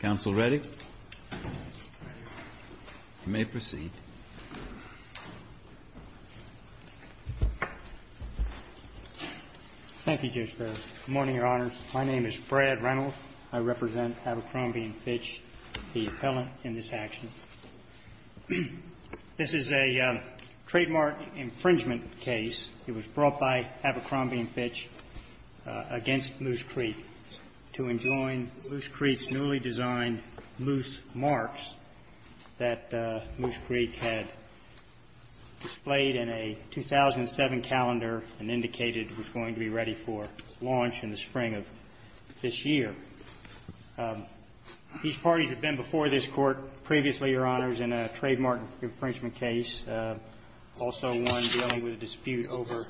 Counsel Reddick. You may proceed. Thank you, Judge Ferris. Good morning, Your Honors. My name is Brad Reynolds. I represent Abercrombie & Fitch, the appellant in this action. This is a trademark infringement case. It was brought by Abercrombie & Fitch against Moose Creek to enjoin Moose Creek's newly designed Moose Marks that Moose Creek had displayed in a 2007 calendar and indicated it was going to be ready for launch in the spring of this year. It was in a trademark infringement case, also one dealing with a dispute over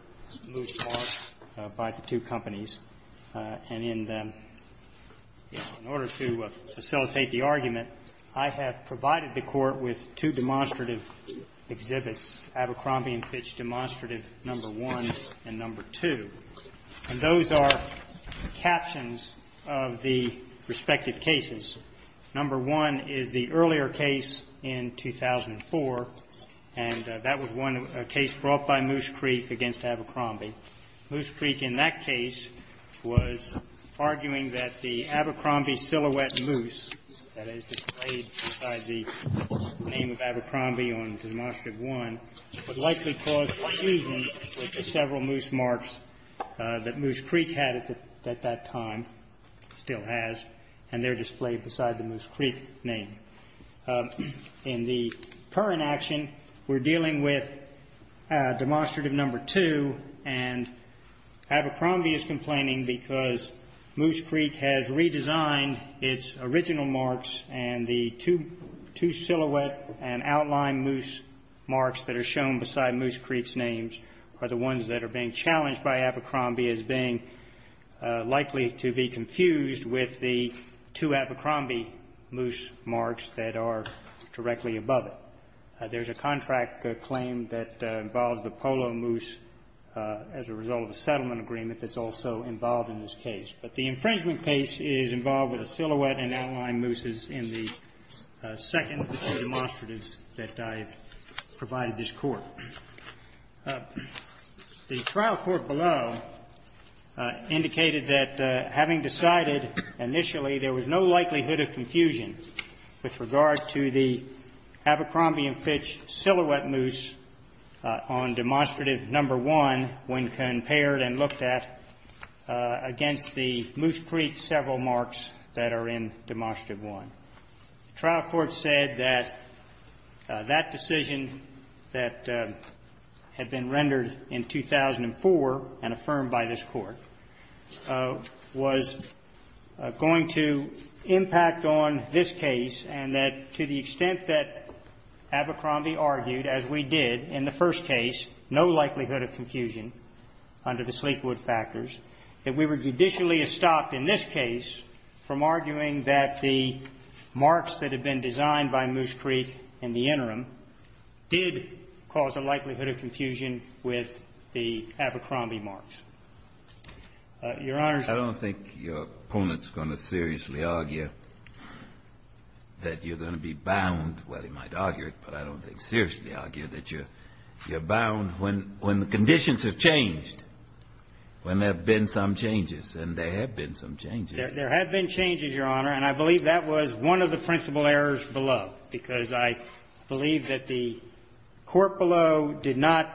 Moose Marks by the two companies. And in order to facilitate the argument, I have provided the Court with two demonstrative exhibits, Abercrombie & Fitch Demonstrative No. 1 and No. 2. And those are captions of the respective cases. No. 1 is the earlier case in 2004, and that was one case brought by Moose Creek against Abercrombie. Moose Creek in that case was arguing that the Abercrombie silhouette moose that is displayed beside the name of Abercrombie on Demonstrative 1 would likely cause confusion with the several Moose Marks that Moose Creek had at that time, still has, and they're displayed beside the Moose Creek name. In the current action, we're dealing with Demonstrative No. 2, and Abercrombie is complaining because Moose Creek has redesigned its original marks, and the two silhouette and outline moose marks that are shown beside Moose Creek's names are the ones that are being challenged by Abercrombie as being likely to be confused with the two Abercrombie moose marks that are directly above it. There's a contract claim that involves the polo moose as a result of a settlement agreement that's also involved in this case. But the infringement case is involved with the silhouette and outline mooses in the second of the two demonstratives that I've provided this Court. The trial court below indicated that having decided initially there was no likelihood of confusion with regard to the Abercrombie and Fitch silhouette moose on Demonstrative No. 1 when compared and looked at against the Moose Creek several marks that are in Demonstrative No. 1. The trial court said that that decision that had been rendered in 2004 and affirmed by this Court was going to impact on this case and that to the extent that Abercrombie argued, as we did in the first case, no likelihood of confusion under the Sleekwood factors, that we were judicially estopped in this case from arguing that the marks that had been designed by Moose Creek in the interim did cause a likelihood of confusion with the Abercrombie marks. Your Honors, I don't think your opponent's going to seriously argue that you're bound, well, he might argue it, but I don't think seriously argue that you're bound when conditions have changed, when there have been some changes, and there have been some changes. There have been changes, Your Honor, and I believe that was one of the principal errors below, because I believe that the court below did not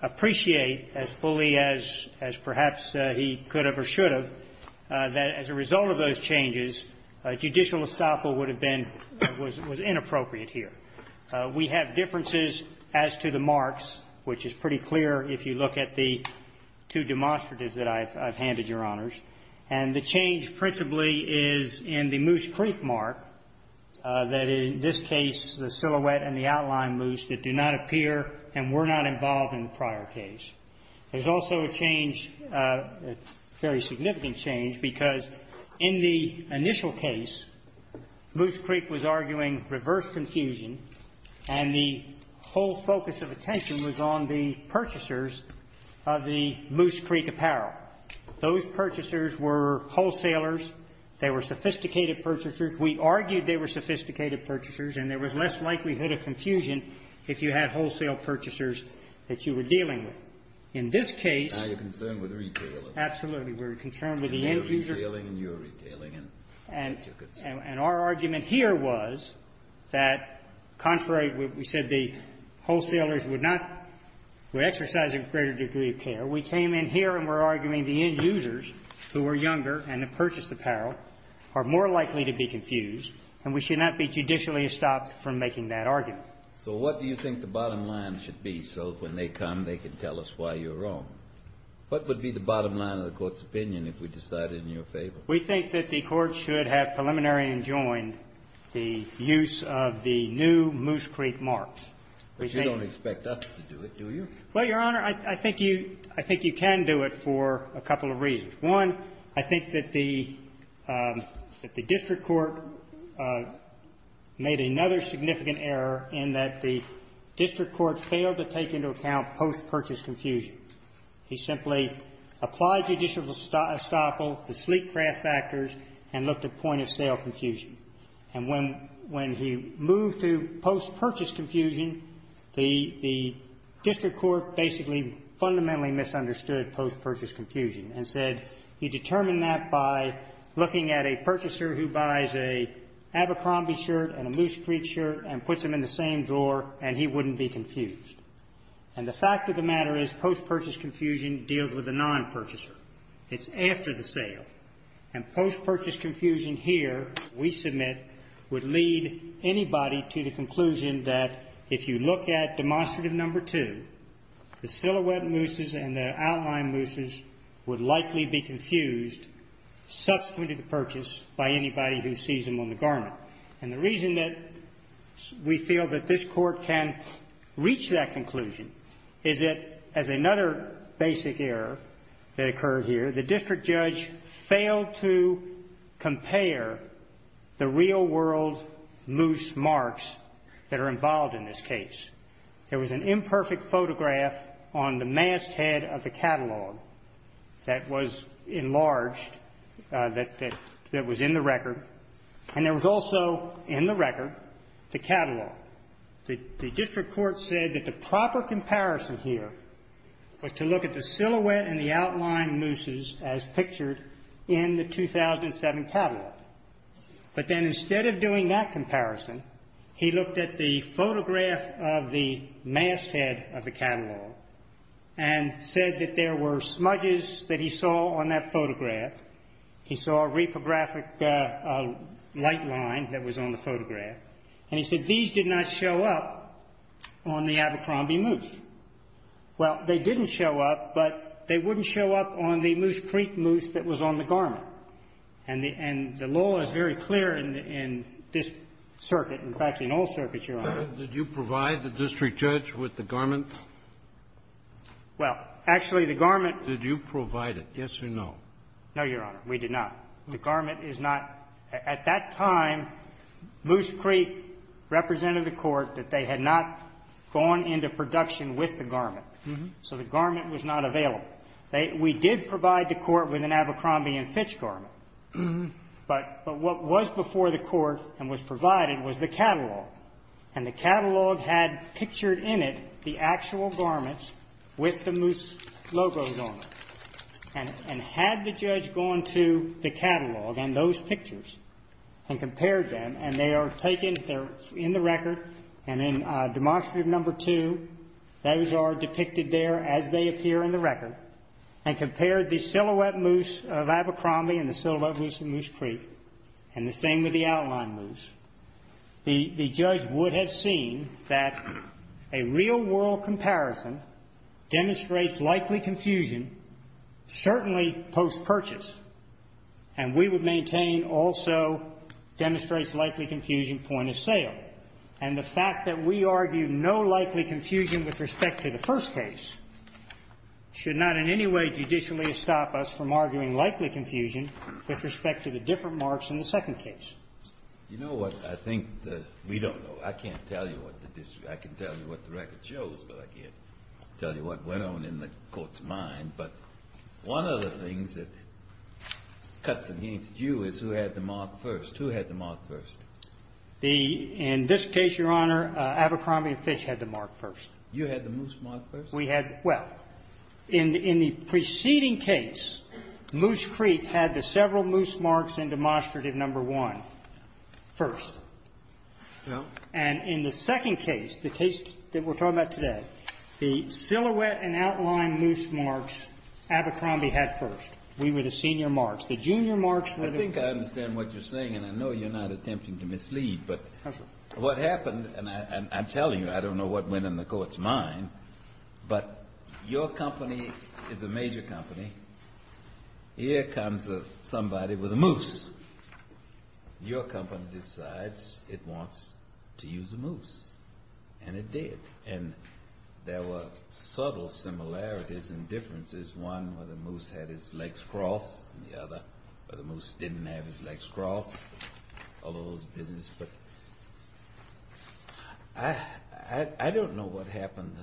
appreciate as fully as perhaps he could have or should have, that as a result of those changes, a judicial estoppel would have been, was inappropriate here. We have differences as to the marks, which is pretty clear if you look at the two demonstratives that I've handed, Your Honors. And the change principally is in the Moose Creek mark, that in this case, the silhouette and the outline moose that do not appear and were not involved in the prior case. There's also a change, a very significant change, because in the initial case, Moose Creek was arguing reverse confusion, and the whole focus of attention was on the purchasers of the Moose Creek apparel. Those purchasers were wholesalers. They were sophisticated purchasers. We argued they were sophisticated purchasers, and there was less likelihood of confusion if you had wholesale purchasers that you were dealing with. In this case we're concerned with the end user. And our argument here was that, contrary, we said the wholesalers would not, would exercise a greater degree of care. We came in here and we're arguing the end users who were younger and had purchased apparel are more likely to be confused, and we should not be judicially estopped from making that argument. So what do you think the bottom line should be so that when they come they can tell us why you're wrong? What would be the bottom line of the Court's opinion if we decided in your favor? We think that the Court should have preliminary enjoined the use of the new Moose Creek marks. But you don't expect us to do it, do you? Well, Your Honor, I think you can do it for a couple of reasons. One, I think that the district court made another significant error in that the district court failed to take into account post-purchase confusion. He simply applied judicial estoppel, the sleek craft factors, and looked at point of sale confusion. And when he moved to post-purchase confusion, the district court basically fundamentally misunderstood post-purchase confusion and said he determined that by looking at a purchaser who buys an Abercrombie shirt and a Moose Creek shirt and puts them in the same drawer and he wouldn't be confused. And the fact of the matter is post-purchase confusion deals with a non-purchaser. It's after the sale. And post-purchase confusion here, we submit, would lead anybody to the conclusion that if you look at demonstrative number two, the silhouette Mooses and the outline Mooses would likely be confused subsequent to the purchase by anybody who sees them on the garment. And the reason that we feel that this court can reach that conclusion is that as another basic error that occurred here, the district judge failed to compare the real-world Moose marks that are involved in this case. There was an imperfect photograph on the masthead of the catalog that was enlarged that was in the record. And there was also in the record the catalog. The district court said that the proper comparison here was to look at the silhouette and the outline Mooses as pictured in the 2007 catalog. But then instead of doing that comparison, he looked at the photograph of the masthead of the catalog and said that there were smudges that he saw on that photograph. He saw a reprographic light line that was on the photograph. And he said these did not show up on the Abercrombie Moose. Well, they didn't show up, but they wouldn't show up on the Moose Creek Moose that was on the garment. And the law is very clear in this circuit. In fact, in all circuits, Your Honor. Did you provide the district judge with the garment? Well, actually, the garment Did you provide it? Yes or no? No, Your Honor. We did not. The garment is not. At that time, Moose Creek represented the court that they had not gone into production with the garment. So the garment was not available. We did provide the court with an Abercrombie and Fitch garment. But what was before the court and was provided was the catalog. And the catalog had pictured in it the actual garments with the Moose logos on them. And had the judge gone to the catalog and those pictures and compared them, and they are taken in the record, and in demonstrative number two, those are depicted there as they appear in the record, and compared the silhouette Moose of Abercrombie and the silhouette Moose of Moose Creek and the same with the outline Moose, the judge would have seen that a real-world comparison demonstrates likely confusion certainly post-purchase. And we would maintain also demonstrates likely confusion point of sale. And the fact that we argue no likely confusion with respect to the first case should not in any way judicially stop us from arguing likely confusion with respect to the different marks in the second case. You know what? I think that we don't know. I can't tell you what the district or I can tell you what the record shows, but I can't tell you what went on in the court's mind. But one of the things that cuts against you is who had the mark first. Who had the mark first? In this case, Your Honor, Abercrombie and Fitch had the mark first. You had the Moose mark first? We had. Well, in the preceding case, Moose Creek had the several Moose marks in demonstrative number one first. No. And in the second case, the case that we're talking about today, the silhouette and outline Moose marks Abercrombie had first. We were the senior marks. The junior marks were the first. I think I understand what you're saying, and I know you're not attempting to mislead. But what happened, and I'm telling you, I don't know what went in the court's mind, but your company is a major company. Here comes somebody with a Moose. Your company decides it wants to use a Moose. And it did. And there were subtle similarities and differences. One, whether Moose had his legs crossed, and the other, whether Moose didn't have his legs crossed, all of those business. But I don't know what happened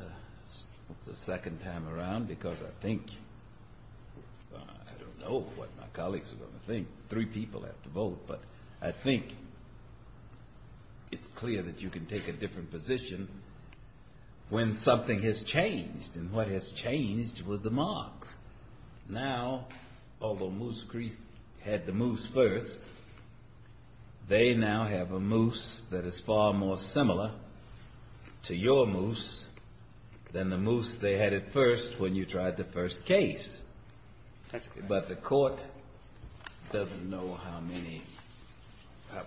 the second time around, because I think, I don't know what my colleagues are going to think. Three people have to vote. But I think it's clear that you can take a different position when something has changed. And what has changed was the marks. Now, although Moose had the Moose first, they now have a Moose that is far more similar to your Moose than the Moose they had at first when you tried the first case. But the court doesn't know how many,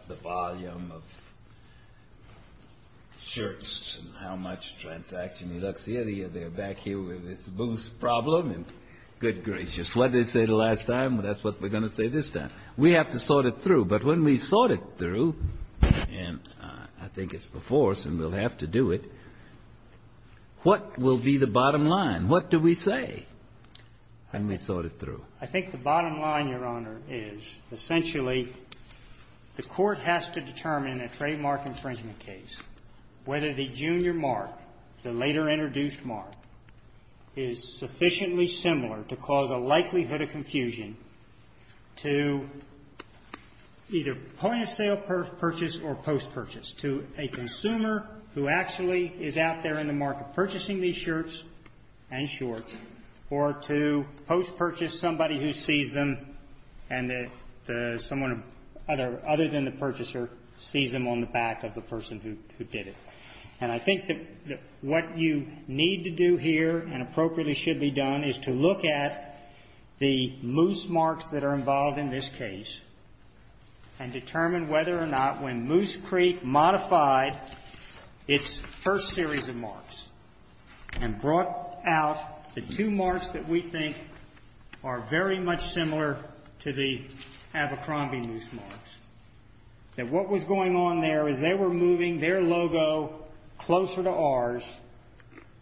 the volume of shirts and how much transaction luxury they have. They're back here with this Moose problem. And good gracious, what did they say the last time? That's what we're going to say this time. We have to sort it through. But when we sort it through, and I think it's before us and we'll have to do it, what will be the bottom line? What do we say when we sort it through? I think the bottom line, Your Honor, is essentially the Court has to determine in a trademark infringement case whether the junior mark, the later introduced mark, is sufficiently similar to cause a likelihood of confusion to either point-of-sale purchase or post-purchase, to a consumer who actually is out there in the market purchasing these shirts and shorts or to post-purchase somebody who sees them and someone other than the purchaser sees them on the back of the person who did it. And I think that what you need to do here and appropriately should be done is to look at the Moose marks that are involved in this case and determine whether or not when Moose Creek modified its first series of marks and brought out the two marks that we believe to be Abercrombie Moose marks, that what was going on there is they were moving their logo closer to ours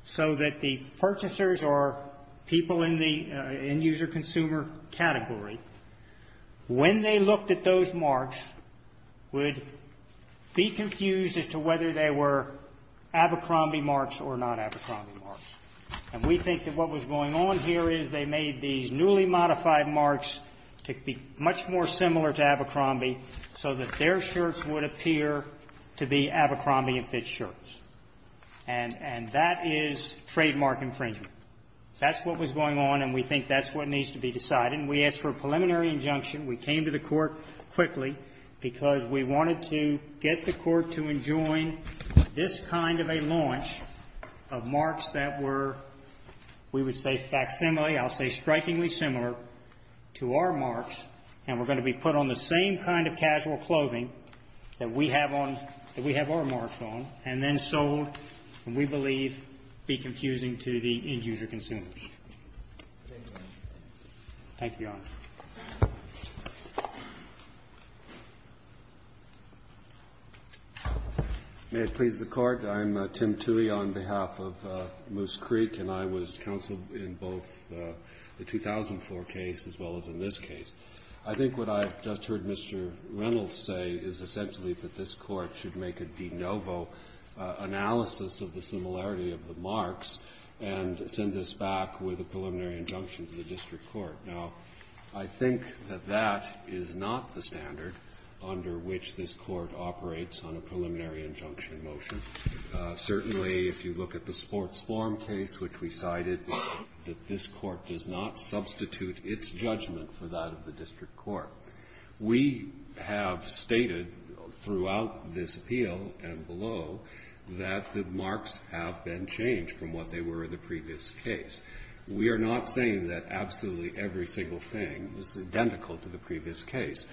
so that the purchasers or people in the end-user-consumer category, when they looked at those marks, would be confused as to whether they were Abercrombie marks or not Abercrombie marks. And we think that what was going on here is they made these newly modified marks to be much more similar to Abercrombie so that their shirts would appear to be Abercrombie and Fitz shirts. And that is trademark infringement. That's what was going on, and we think that's what needs to be decided. And we asked for a preliminary injunction. We came to the Court quickly because we wanted to get the Court to enjoin this kind of a launch of marks that were, we would say, facsimile, I'll say strikingly similar to our marks, and were going to be put on the same kind of casual clothing that we have on, that we have our marks on, and then sold, and we believe be confusing to the end-user-consumers. Thank you, Your Honor. May it please the Court. I'm Tim Tuohy on behalf of Moose Creek, and I was counsel in both the 2004 case as well as in this case. I think what I've just heard Mr. Reynolds say is essentially that this Court should make a de novo analysis of the similarity of the marks and send this back with a preliminary injunction to the district court. Now, I think that that is not the standard under which this Court operates on a preliminary injunction motion. Certainly, if you look at the sports form case, which we cited, that this Court does not substitute its judgment for that of the district court. We have stated throughout this appeal and below that the marks have been changed from what they were in the previous case. We are not saying that absolutely every single thing is identical to the previous case.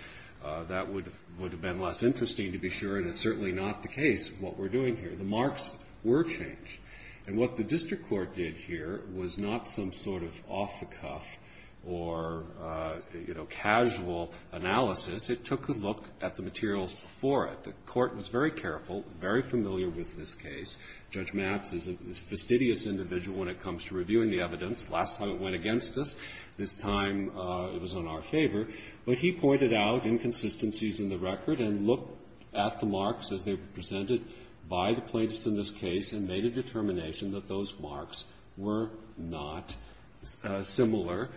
That would have been less interesting to be sure, and it's certainly not the case of what we're doing here. The marks were changed. And what the district court did here was not some sort of off-the-cuff or, you know, casual analysis. It took a look at the materials for it. The Court was very careful, very familiar with this case. Judge Matz is a fastidious individual when it comes to reviewing the evidence. Last time it went against us. This time it was on our favor. But he pointed out inconsistencies in the record and looked at the marks as they were presented by the plaintiffs in this case and made a determination that those marks were not similar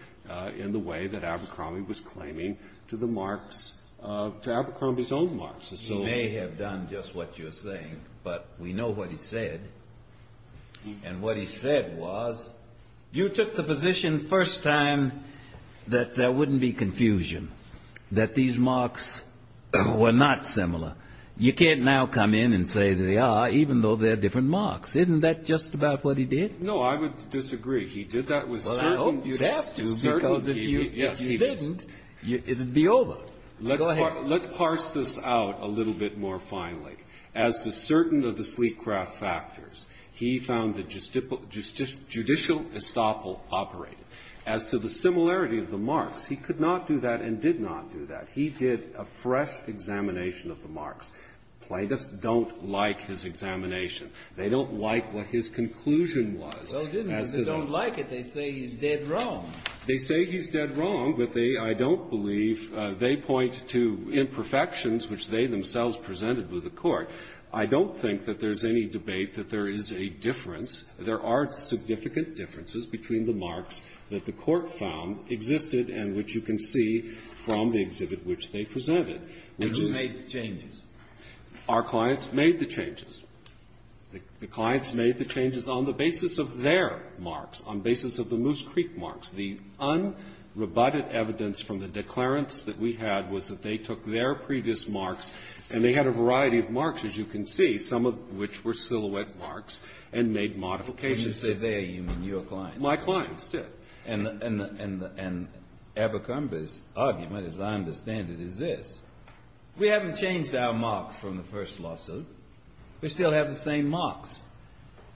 in the way that Abercrombie was claiming to the marks, to Abercrombie's own marks. He may have done just what you're saying, but we know what he said. And what he said was, you took the position first time that there wouldn't be confusion, that these marks were not similar. You can't now come in and say they are, even though they're different marks. Isn't that just about what he did? No, I would disagree. He did that with certainty. Well, I hope that's true, because if he didn't, it would be over. Go ahead. Let's parse this out a little bit more finally. As to certain of the sleek craft factors, he found that judicial estoppel operated. As to the similarity of the marks, he could not do that and did not do that. He did a fresh examination of the marks. Plaintiffs don't like his examination. They don't like what his conclusion was. Well, it isn't because they don't like it. They say he's dead wrong. They say he's dead wrong, but they don't believe they point to imperfections which they themselves presented with the Court. I don't think that there's any debate that there is a difference. There are significant differences between the marks that the Court found existed and which you can see from the exhibit which they presented. And who made the changes? Our clients made the changes. The clients made the changes on the basis of their marks, on basis of the Moose Creek marks. The unrebutted evidence from the declarants that we had was that they took their previous marks, and they had a variety of marks, as you can see, some of which were silhouette marks, and made modifications to them. And you said they are your clients. My clients, too. And Abercrombie's argument, as I understand it, is this. We haven't changed our marks from the first lawsuit. We still have the same marks.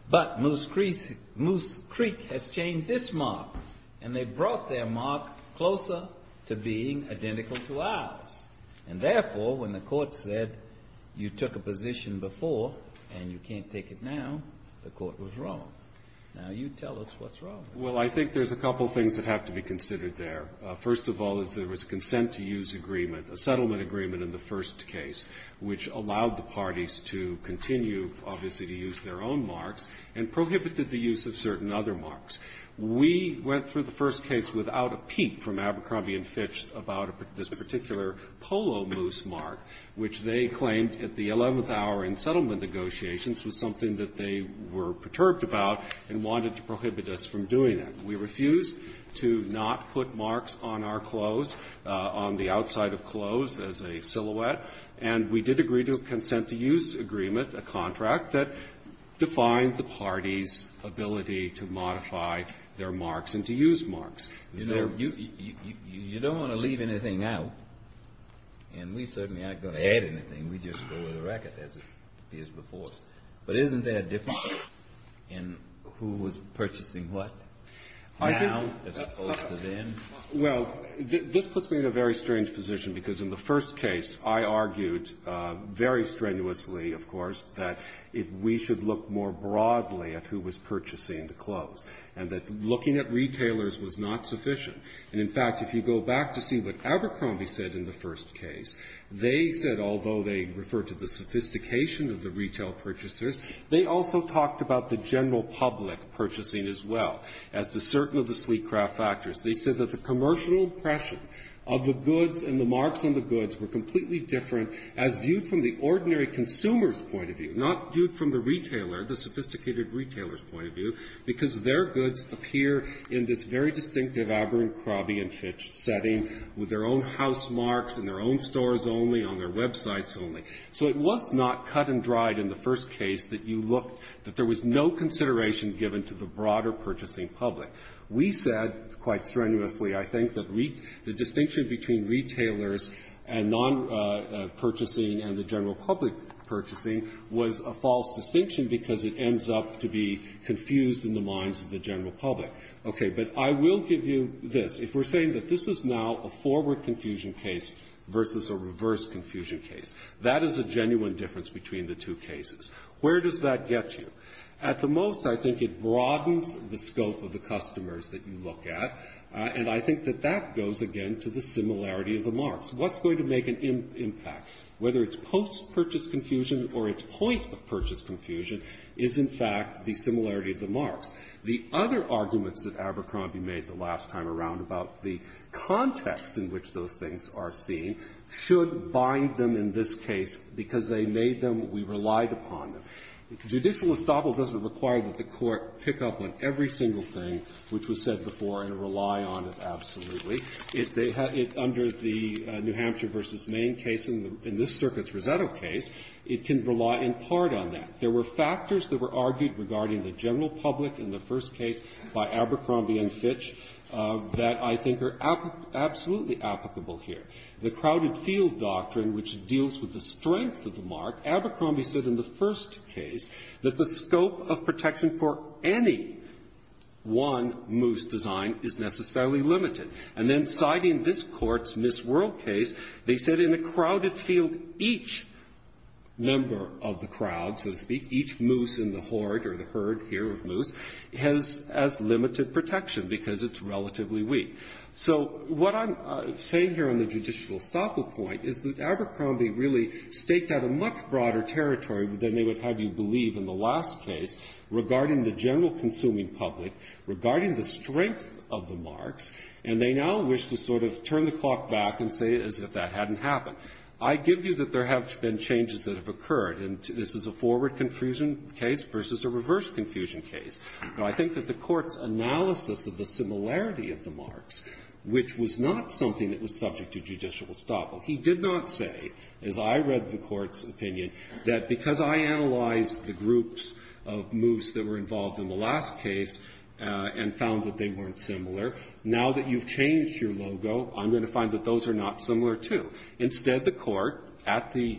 But Moose Creek has changed this mark, and they brought their mark closer to being identical to ours. And, therefore, when the Court said you took a position before, and you can't take it now, the Court was wrong. Now you tell us what's wrong. Well, I think there's a couple of things that have to be considered there. First of all is there was a consent to use agreement, a settlement agreement in the first case, which allowed the parties to continue, obviously, to use their own marks, and prohibited the use of certain other marks. We went through the first case without a peep from Abercrombie and Fitch about this particular Polo Moose mark, which they claimed at the 11th hour in settlement negotiations was something that they were perturbed about and wanted to prohibit us from doing that. We refused to not put marks on our clothes, on the outside of clothes as a silhouette. And we did agree to a consent to use agreement, a contract that defined the party's ability to modify their marks and to use marks. You don't want to leave anything out, and we certainly aren't going to add anything. We just go with the record as it is before us. But isn't that different in who was purchasing what now as opposed to then? Well, this puts me in a very strange position, because in the first case, I argued very strenuously, of course, that we should look more broadly at who was purchasing the clothes, and that looking at retailers was not sufficient. And, in fact, if you go back to see what Abercrombie said in the first case, they said, although they talked about the general public purchasing as well, as to certain of the sleek craft factors, they said that the commercial impression of the goods and the marks on the goods were completely different as viewed from the ordinary consumer's point of view, not viewed from the retailer, the sophisticated retailer's point of view, because their goods appear in this very distinctive Abercrombie and Fitch setting with their own house marks in their own stores only, on their websites only. So it was not cut and dried in the first case that you looked, that there was no consideration given to the broader purchasing public. We said, quite strenuously, I think, that the distinction between retailers and non-purchasing and the general public purchasing was a false distinction because it ends up to be confused in the minds of the general public. Okay. But I will give you this. If we're saying that this is now a forward confusion case versus a reverse confusion case, that is a genuine difference between the two cases. Where does that get you? At the most, I think it broadens the scope of the customers that you look at, and I think that that goes, again, to the similarity of the marks. What's going to make an impact? Whether it's post-purchase confusion or its point of purchase confusion is, in fact, the similarity of the comments that Mr. Abercrombie made the last time around about the context in which those things are seen should bind them in this case because they made them, we relied upon them. Judicial estoppel doesn't require that the Court pick up on every single thing which was said before and rely on it absolutely. Under the New Hampshire v. Main case, in this circuit's Rosetto case, it can rely in part on that. There were factors that were argued regarding the general public in the first case by Abercrombie and Fitch that I think are absolutely applicable here. The crowded field doctrine, which deals with the strength of the mark, Abercrombie said in the first case that the scope of protection for any one moose design is necessarily limited. And then, citing this Court's Miss World case, they said in a crowded field, each member of the crowd, so to speak, each moose in the horde or the herd here of moose has as limited protection because it's relatively weak. So what I'm saying here on the judicial estoppel point is that Abercrombie really staked out a much broader territory than they would have you believe in the last case regarding the general consuming public, regarding the strength of the marks, and they now wish to sort of turn the clock back and say as if that hadn't happened. I give you that there have been changes that have occurred, and this is a forward confusion case versus a reverse confusion case. Now, I think that the Court's analysis of the similarity of the marks, which was not something that was subject to judicial estoppel, he did not say, as I read the Court's opinion, that because I analyzed the groups of moose that were involved in the last case and found that they weren't similar, now that you've changed your logo, I'm going to find that those are not similar, too. Instead, the Court, at the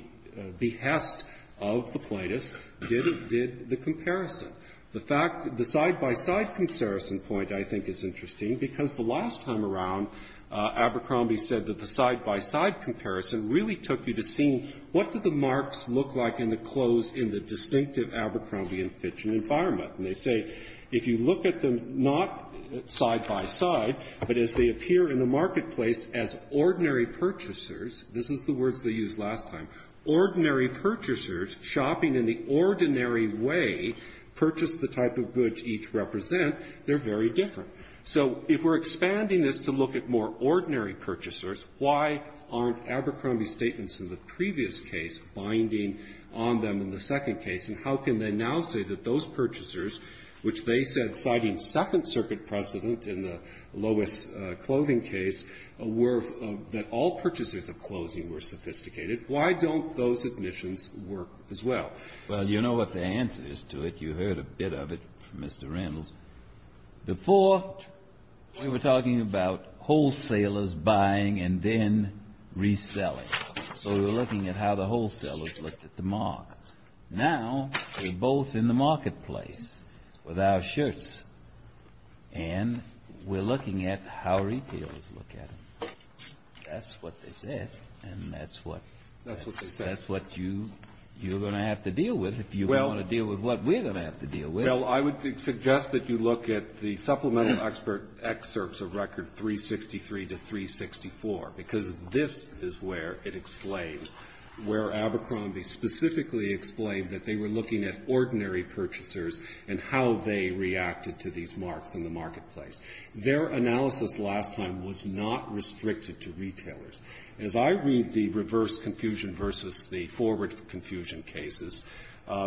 behest of the plaintiffs, did the comparison. The fact that the side-by-side comparison point, I think, is interesting because the last time around, Abercrombie said that the side-by-side comparison really took you to seeing what do the marks look like in the clothes in the distinctive Abercrombie and Fitchen environment. And they say if you look at them not side-by-side, but as they appear in the marketplace as ordinary purchasers, this is the words they used last time, ordinary purchasers shopping in the ordinary way, purchase the type of goods each represent, they're very different. So if we're expanding this to look at more ordinary purchasers, why aren't Abercrombie's statements in the previous case binding on them in the second case? And how can they now say that those purchasers, which they said, citing Second Amendment, were, that all purchasers of clothing were sophisticated, why don't those admissions work as well? Well, you know what the answer is to it. You heard a bit of it from Mr. Randalls. Before, we were talking about wholesalers buying and then reselling. So we were looking at how the wholesalers looked at the mark. Now, we're both in the marketplace with our shirts, and we're looking at how retailers look at them. That's what they said, and that's what you're going to have to deal with if you want to deal with what we're going to have to deal with. Well, I would suggest that you look at the Supplemental Expert excerpts of Record 363 to 364, because this is where it explains, where Abercrombie specifically explained that they were looking at ordinary purchasers and how they reacted to these marks in the marketplace. Their analysis last time was not restricted to retailers. As I read the reverse confusion versus the forward confusion cases,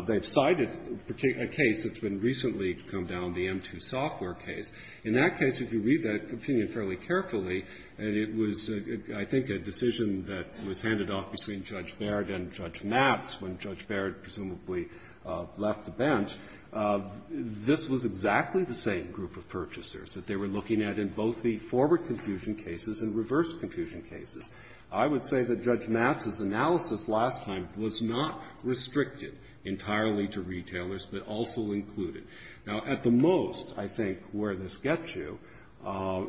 they've cited a case that's been recently come down, the M2 software case. In that case, if you read that opinion fairly carefully, it was, I think, a decision that was handed off between Judge Barrett and Judge Matz when Judge Barrett presumably left the bench. This was exactly the same group of purchasers that they were looking at in both the forward confusion cases and reverse confusion cases. I would say that Judge Matz's analysis last time was not restricted entirely to retailers, but also included. Now, at the most, I think, where this gets you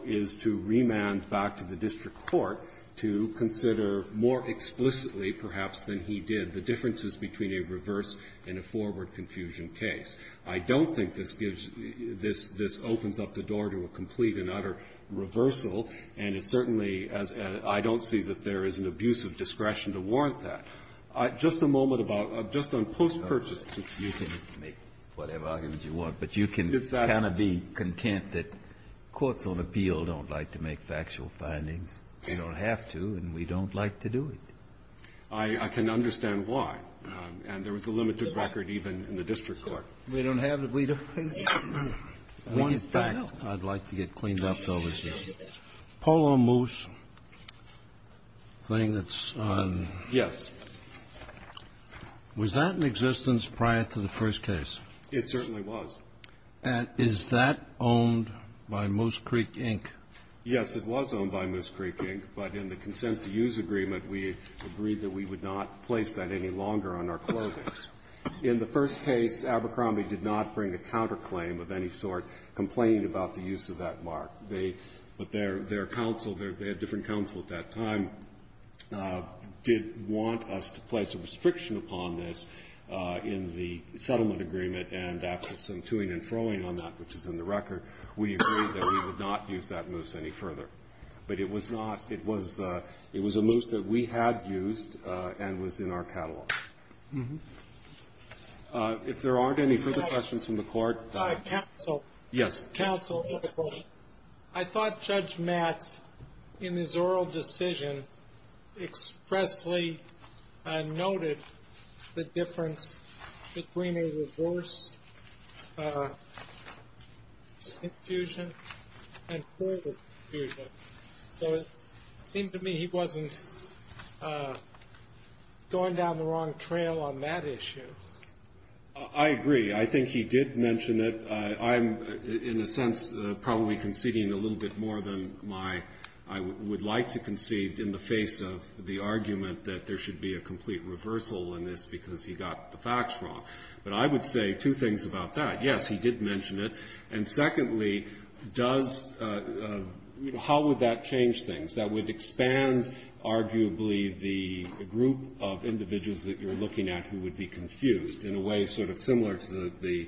is to remand back to the district court to consider more explicitly, perhaps, than he did, the differences between a reverse and a forward confusion case. I don't think this gives you this opens up the door to a complete and utter reversal. And it certainly, as I don't see that there is an abuse of discretion to warrant that. Just a moment about, just on post-purchase. Breyer. You can make whatever arguments you want. But you can kind of be content that courts on appeal don't like to make factual findings. They don't have to, and we don't like to do it. I can understand why. And there was a limited record even in the district court. We don't have it. We just don't know. One fact I'd like to get cleaned up, though, is the Polo Moose thing that's on. Yes. Was that in existence prior to the first case? It certainly was. And is that owned by Moose Creek, Inc.? Yes, it was owned by Moose Creek, Inc. But in the consent to use agreement, we agreed that we would not place that any longer on our clothing. In the first case, Abercrombie did not bring a counterclaim of any sort complaining about the use of that mark. But their counsel, their different counsel at that time, did want us to place a restriction upon this in the settlement agreement, and after some to-ing and fro-ing on that, which is in the record, we agreed that we would not use that moose any further. But it was not. It was a moose that we had used and was in our catalog. If there aren't any further questions from the court. Counsel. Yes. Counsel, I thought Judge Matz, in his oral decision, expressly noted the difference between a reverse confusion and forward confusion. So it seemed to me he wasn't going down the wrong trail on that issue. I agree. I think he did mention it. I'm, in a sense, probably conceding a little bit more than I would like to concede in the face of the argument that there should be a complete reversal in this because he got the facts wrong. But I would say two things about that. Yes, he did mention it. And secondly, does, you know, how would that change things? That would expand, arguably, the group of individuals that you're looking at who would be confused, in a way sort of similar to the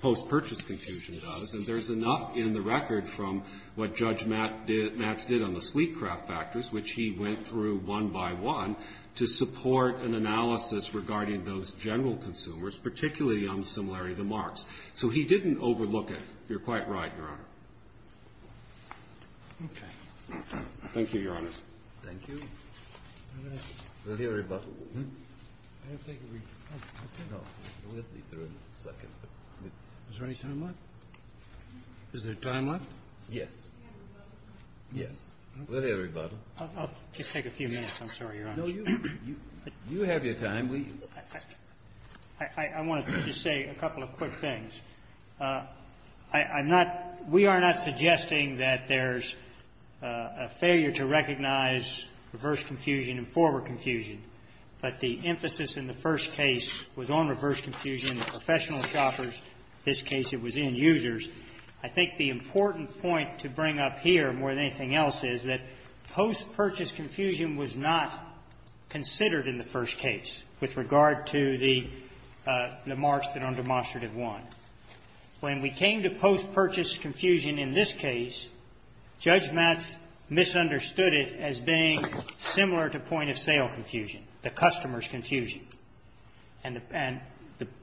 post-purchase confusion about us. And there's enough in the record from what Judge Matz did on the sleek craft factors, which he went through one by one, to support an analysis regarding those general consumers, particularly on the similarity of the marks. So he didn't overlook it. You're quite right, Your Honor. Okay. Thank you, Your Honors. Thank you. We'll hear a rebuttal. I don't think we can. No. We'll be through in a second. Is there any time left? Is there time left? Yes. Yes. We'll hear a rebuttal. I'll just take a few minutes. I'm sorry, Your Honor. No, you have your time. I want to just say a couple of quick things. I'm not we are not suggesting that there's a failure to recognize reverse confusion and forward confusion. But the emphasis in the first case was on reverse confusion, the professional shoppers. In this case, it was end users. I think the important point to bring up here more than anything else is that post-purchase confusion was not considered in the first case with regard to the marks that are on demonstrative one. When we came to post-purchase confusion in this case, Judge Matz misunderstood it as being similar to point-of-sale confusion, the customer's confusion. And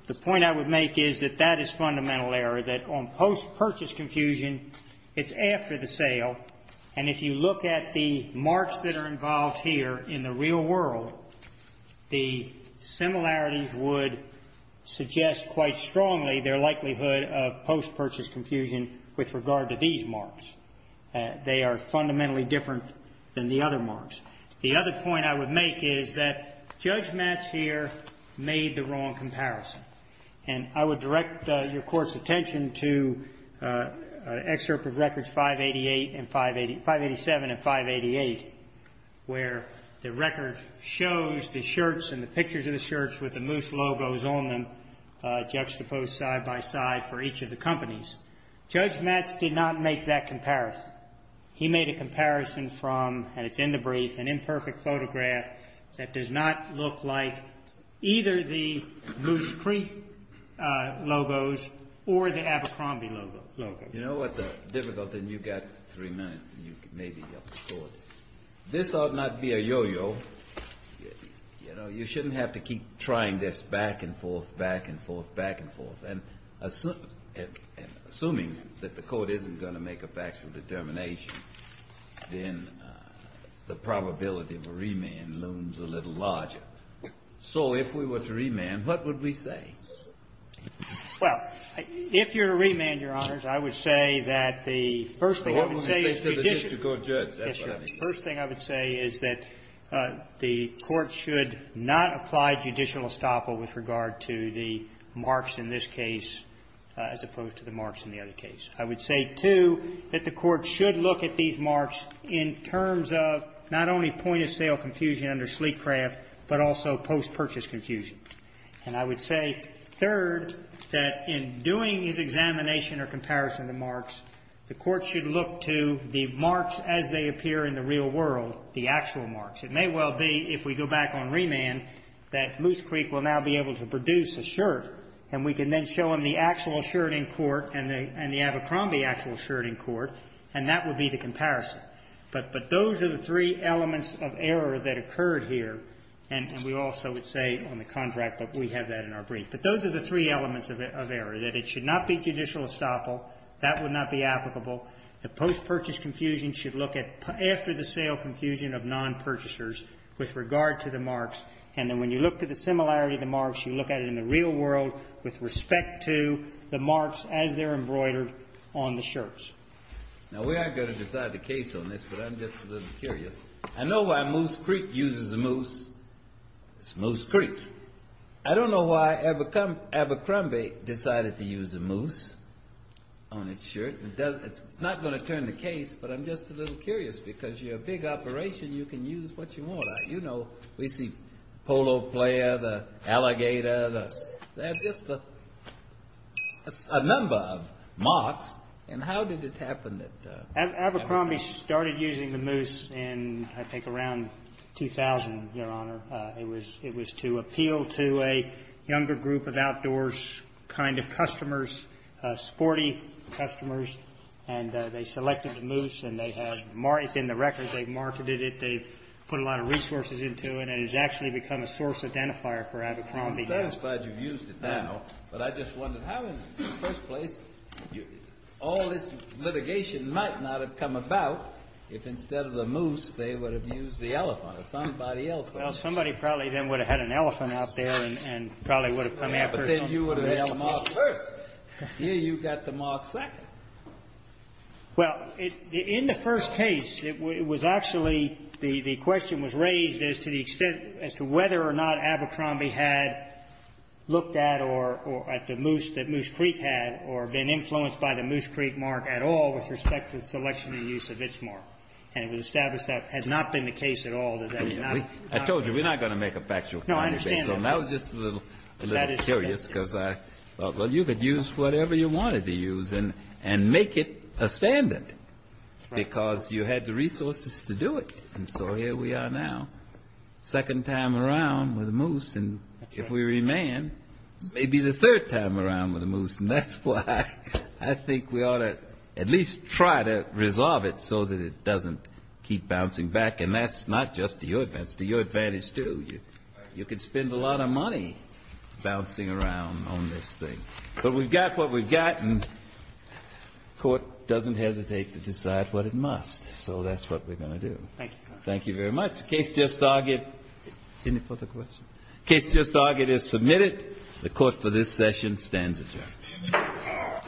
the point I would make is that that is fundamental error, that on post-purchase confusion, it's after the sale. And if you look at the marks that are involved here in the real world, the similarities would suggest quite strongly their likelihood of post-purchase confusion with regard to these marks. They are fundamentally different than the other marks. The other point I would make is that Judge Matz here made the wrong comparison. And I would direct your Court's attention to an excerpt of Records 587 and 588, where the record shows the shirts and the pictures of the shirts with the Moose logos on them juxtaposed side by side for each of the companies. Judge Matz did not make that comparison. He made a comparison from, and it's in the brief, an imperfect photograph that does not look like either the Moose Creek logos or the Abercrombie logos. You know what the difficulty is? You've got three minutes, and you can maybe help the Court. This ought not be a yo-yo. You know, you shouldn't have to keep trying this back and forth, back and forth, back and forth. And assuming that the Court isn't going to make a factual determination, then the probability of a remand looms a little larger. So if we were to remand, what would we say? Well, if you're to remand, Your Honors, I would say that the first thing I would say is that the court should not apply judicial estoppel with regard to the marks in this case as opposed to the marks in the other case. I would say, two, that the court should look at these marks in terms of not only point-of-sale confusion under Sleekcraft, but also post-purchase confusion. And I would say, third, that in doing his examination or comparison of marks, the court should look to the marks as they appear in the real world, the actual marks. It may well be, if we go back on remand, that Moose Creek will now be able to produce a shirt, and we can then show him the actual shirt in court and the Abercrombie actual shirt in court, and that would be the comparison. But those are the three elements of error that occurred here. And we also would say on the contract that we have that in our brief. But those are the three elements of error, that it should not be judicial estoppel. That would not be applicable. The post-purchase confusion should look at after-the-sale confusion of non-purchasers with regard to the marks. And then when you look to the similarity of the marks, you look at it in the real world with respect to the marks as they're embroidered on the shirts. Now, we aren't going to decide the case on this, but I'm just a little curious. I know why Moose Creek uses a moose. It's Moose Creek. I don't know why Abercrombie decided to use a moose on its shirt. It's not going to turn the case, but I'm just a little curious, because you're a big operation. You can use what you want. You know, we see polo player, the alligator, just a number of marks. And how did it happen that? Abercrombie started using the moose in, I think, around 2000, Your Honor. It was to appeal to a younger group of outdoors kind of customers, sporty customers. And they selected the moose, and they have marked it in the records. They've marketed it. They've put a lot of resources into it, and it has actually become a source identifier for Abercrombie. I'm satisfied you've used it now, but I just wondered how in the first place all this litigation might not have come about if instead of the moose they would have used the elephant or somebody else. Well, somebody probably then would have had an elephant out there and probably would have come after. But then you would have had the mark first. Here you've got the mark second. Well, in the first case, it was actually the question was raised as to the extent as to whether or not Abercrombie had looked at or at the moose that Moose Creek had or been influenced by the Moose Creek mark at all with respect to the selection and use of its mark. And it was established that had not been the case at all. I told you, we're not going to make a factual finding based on that. No, I understand that. I was just a little curious because I thought, well, you could use whatever you wanted to use and make it a standard because you had the resources to do it. And so here we are now, second time around with a moose. And if we remand, maybe the third time around with a moose. And that's why I think we ought to at least try to resolve it so that it doesn't keep bouncing back. And that's not just to your advantage. That's to your advantage, too. You could spend a lot of money bouncing around on this thing. But we've got what we've got, and court doesn't hesitate to decide what it must. So that's what we're going to do. Thank you, Your Honor. Thank you very much. Case just argued. Any further questions? Case just argued is submitted. The court for this session stands adjourned.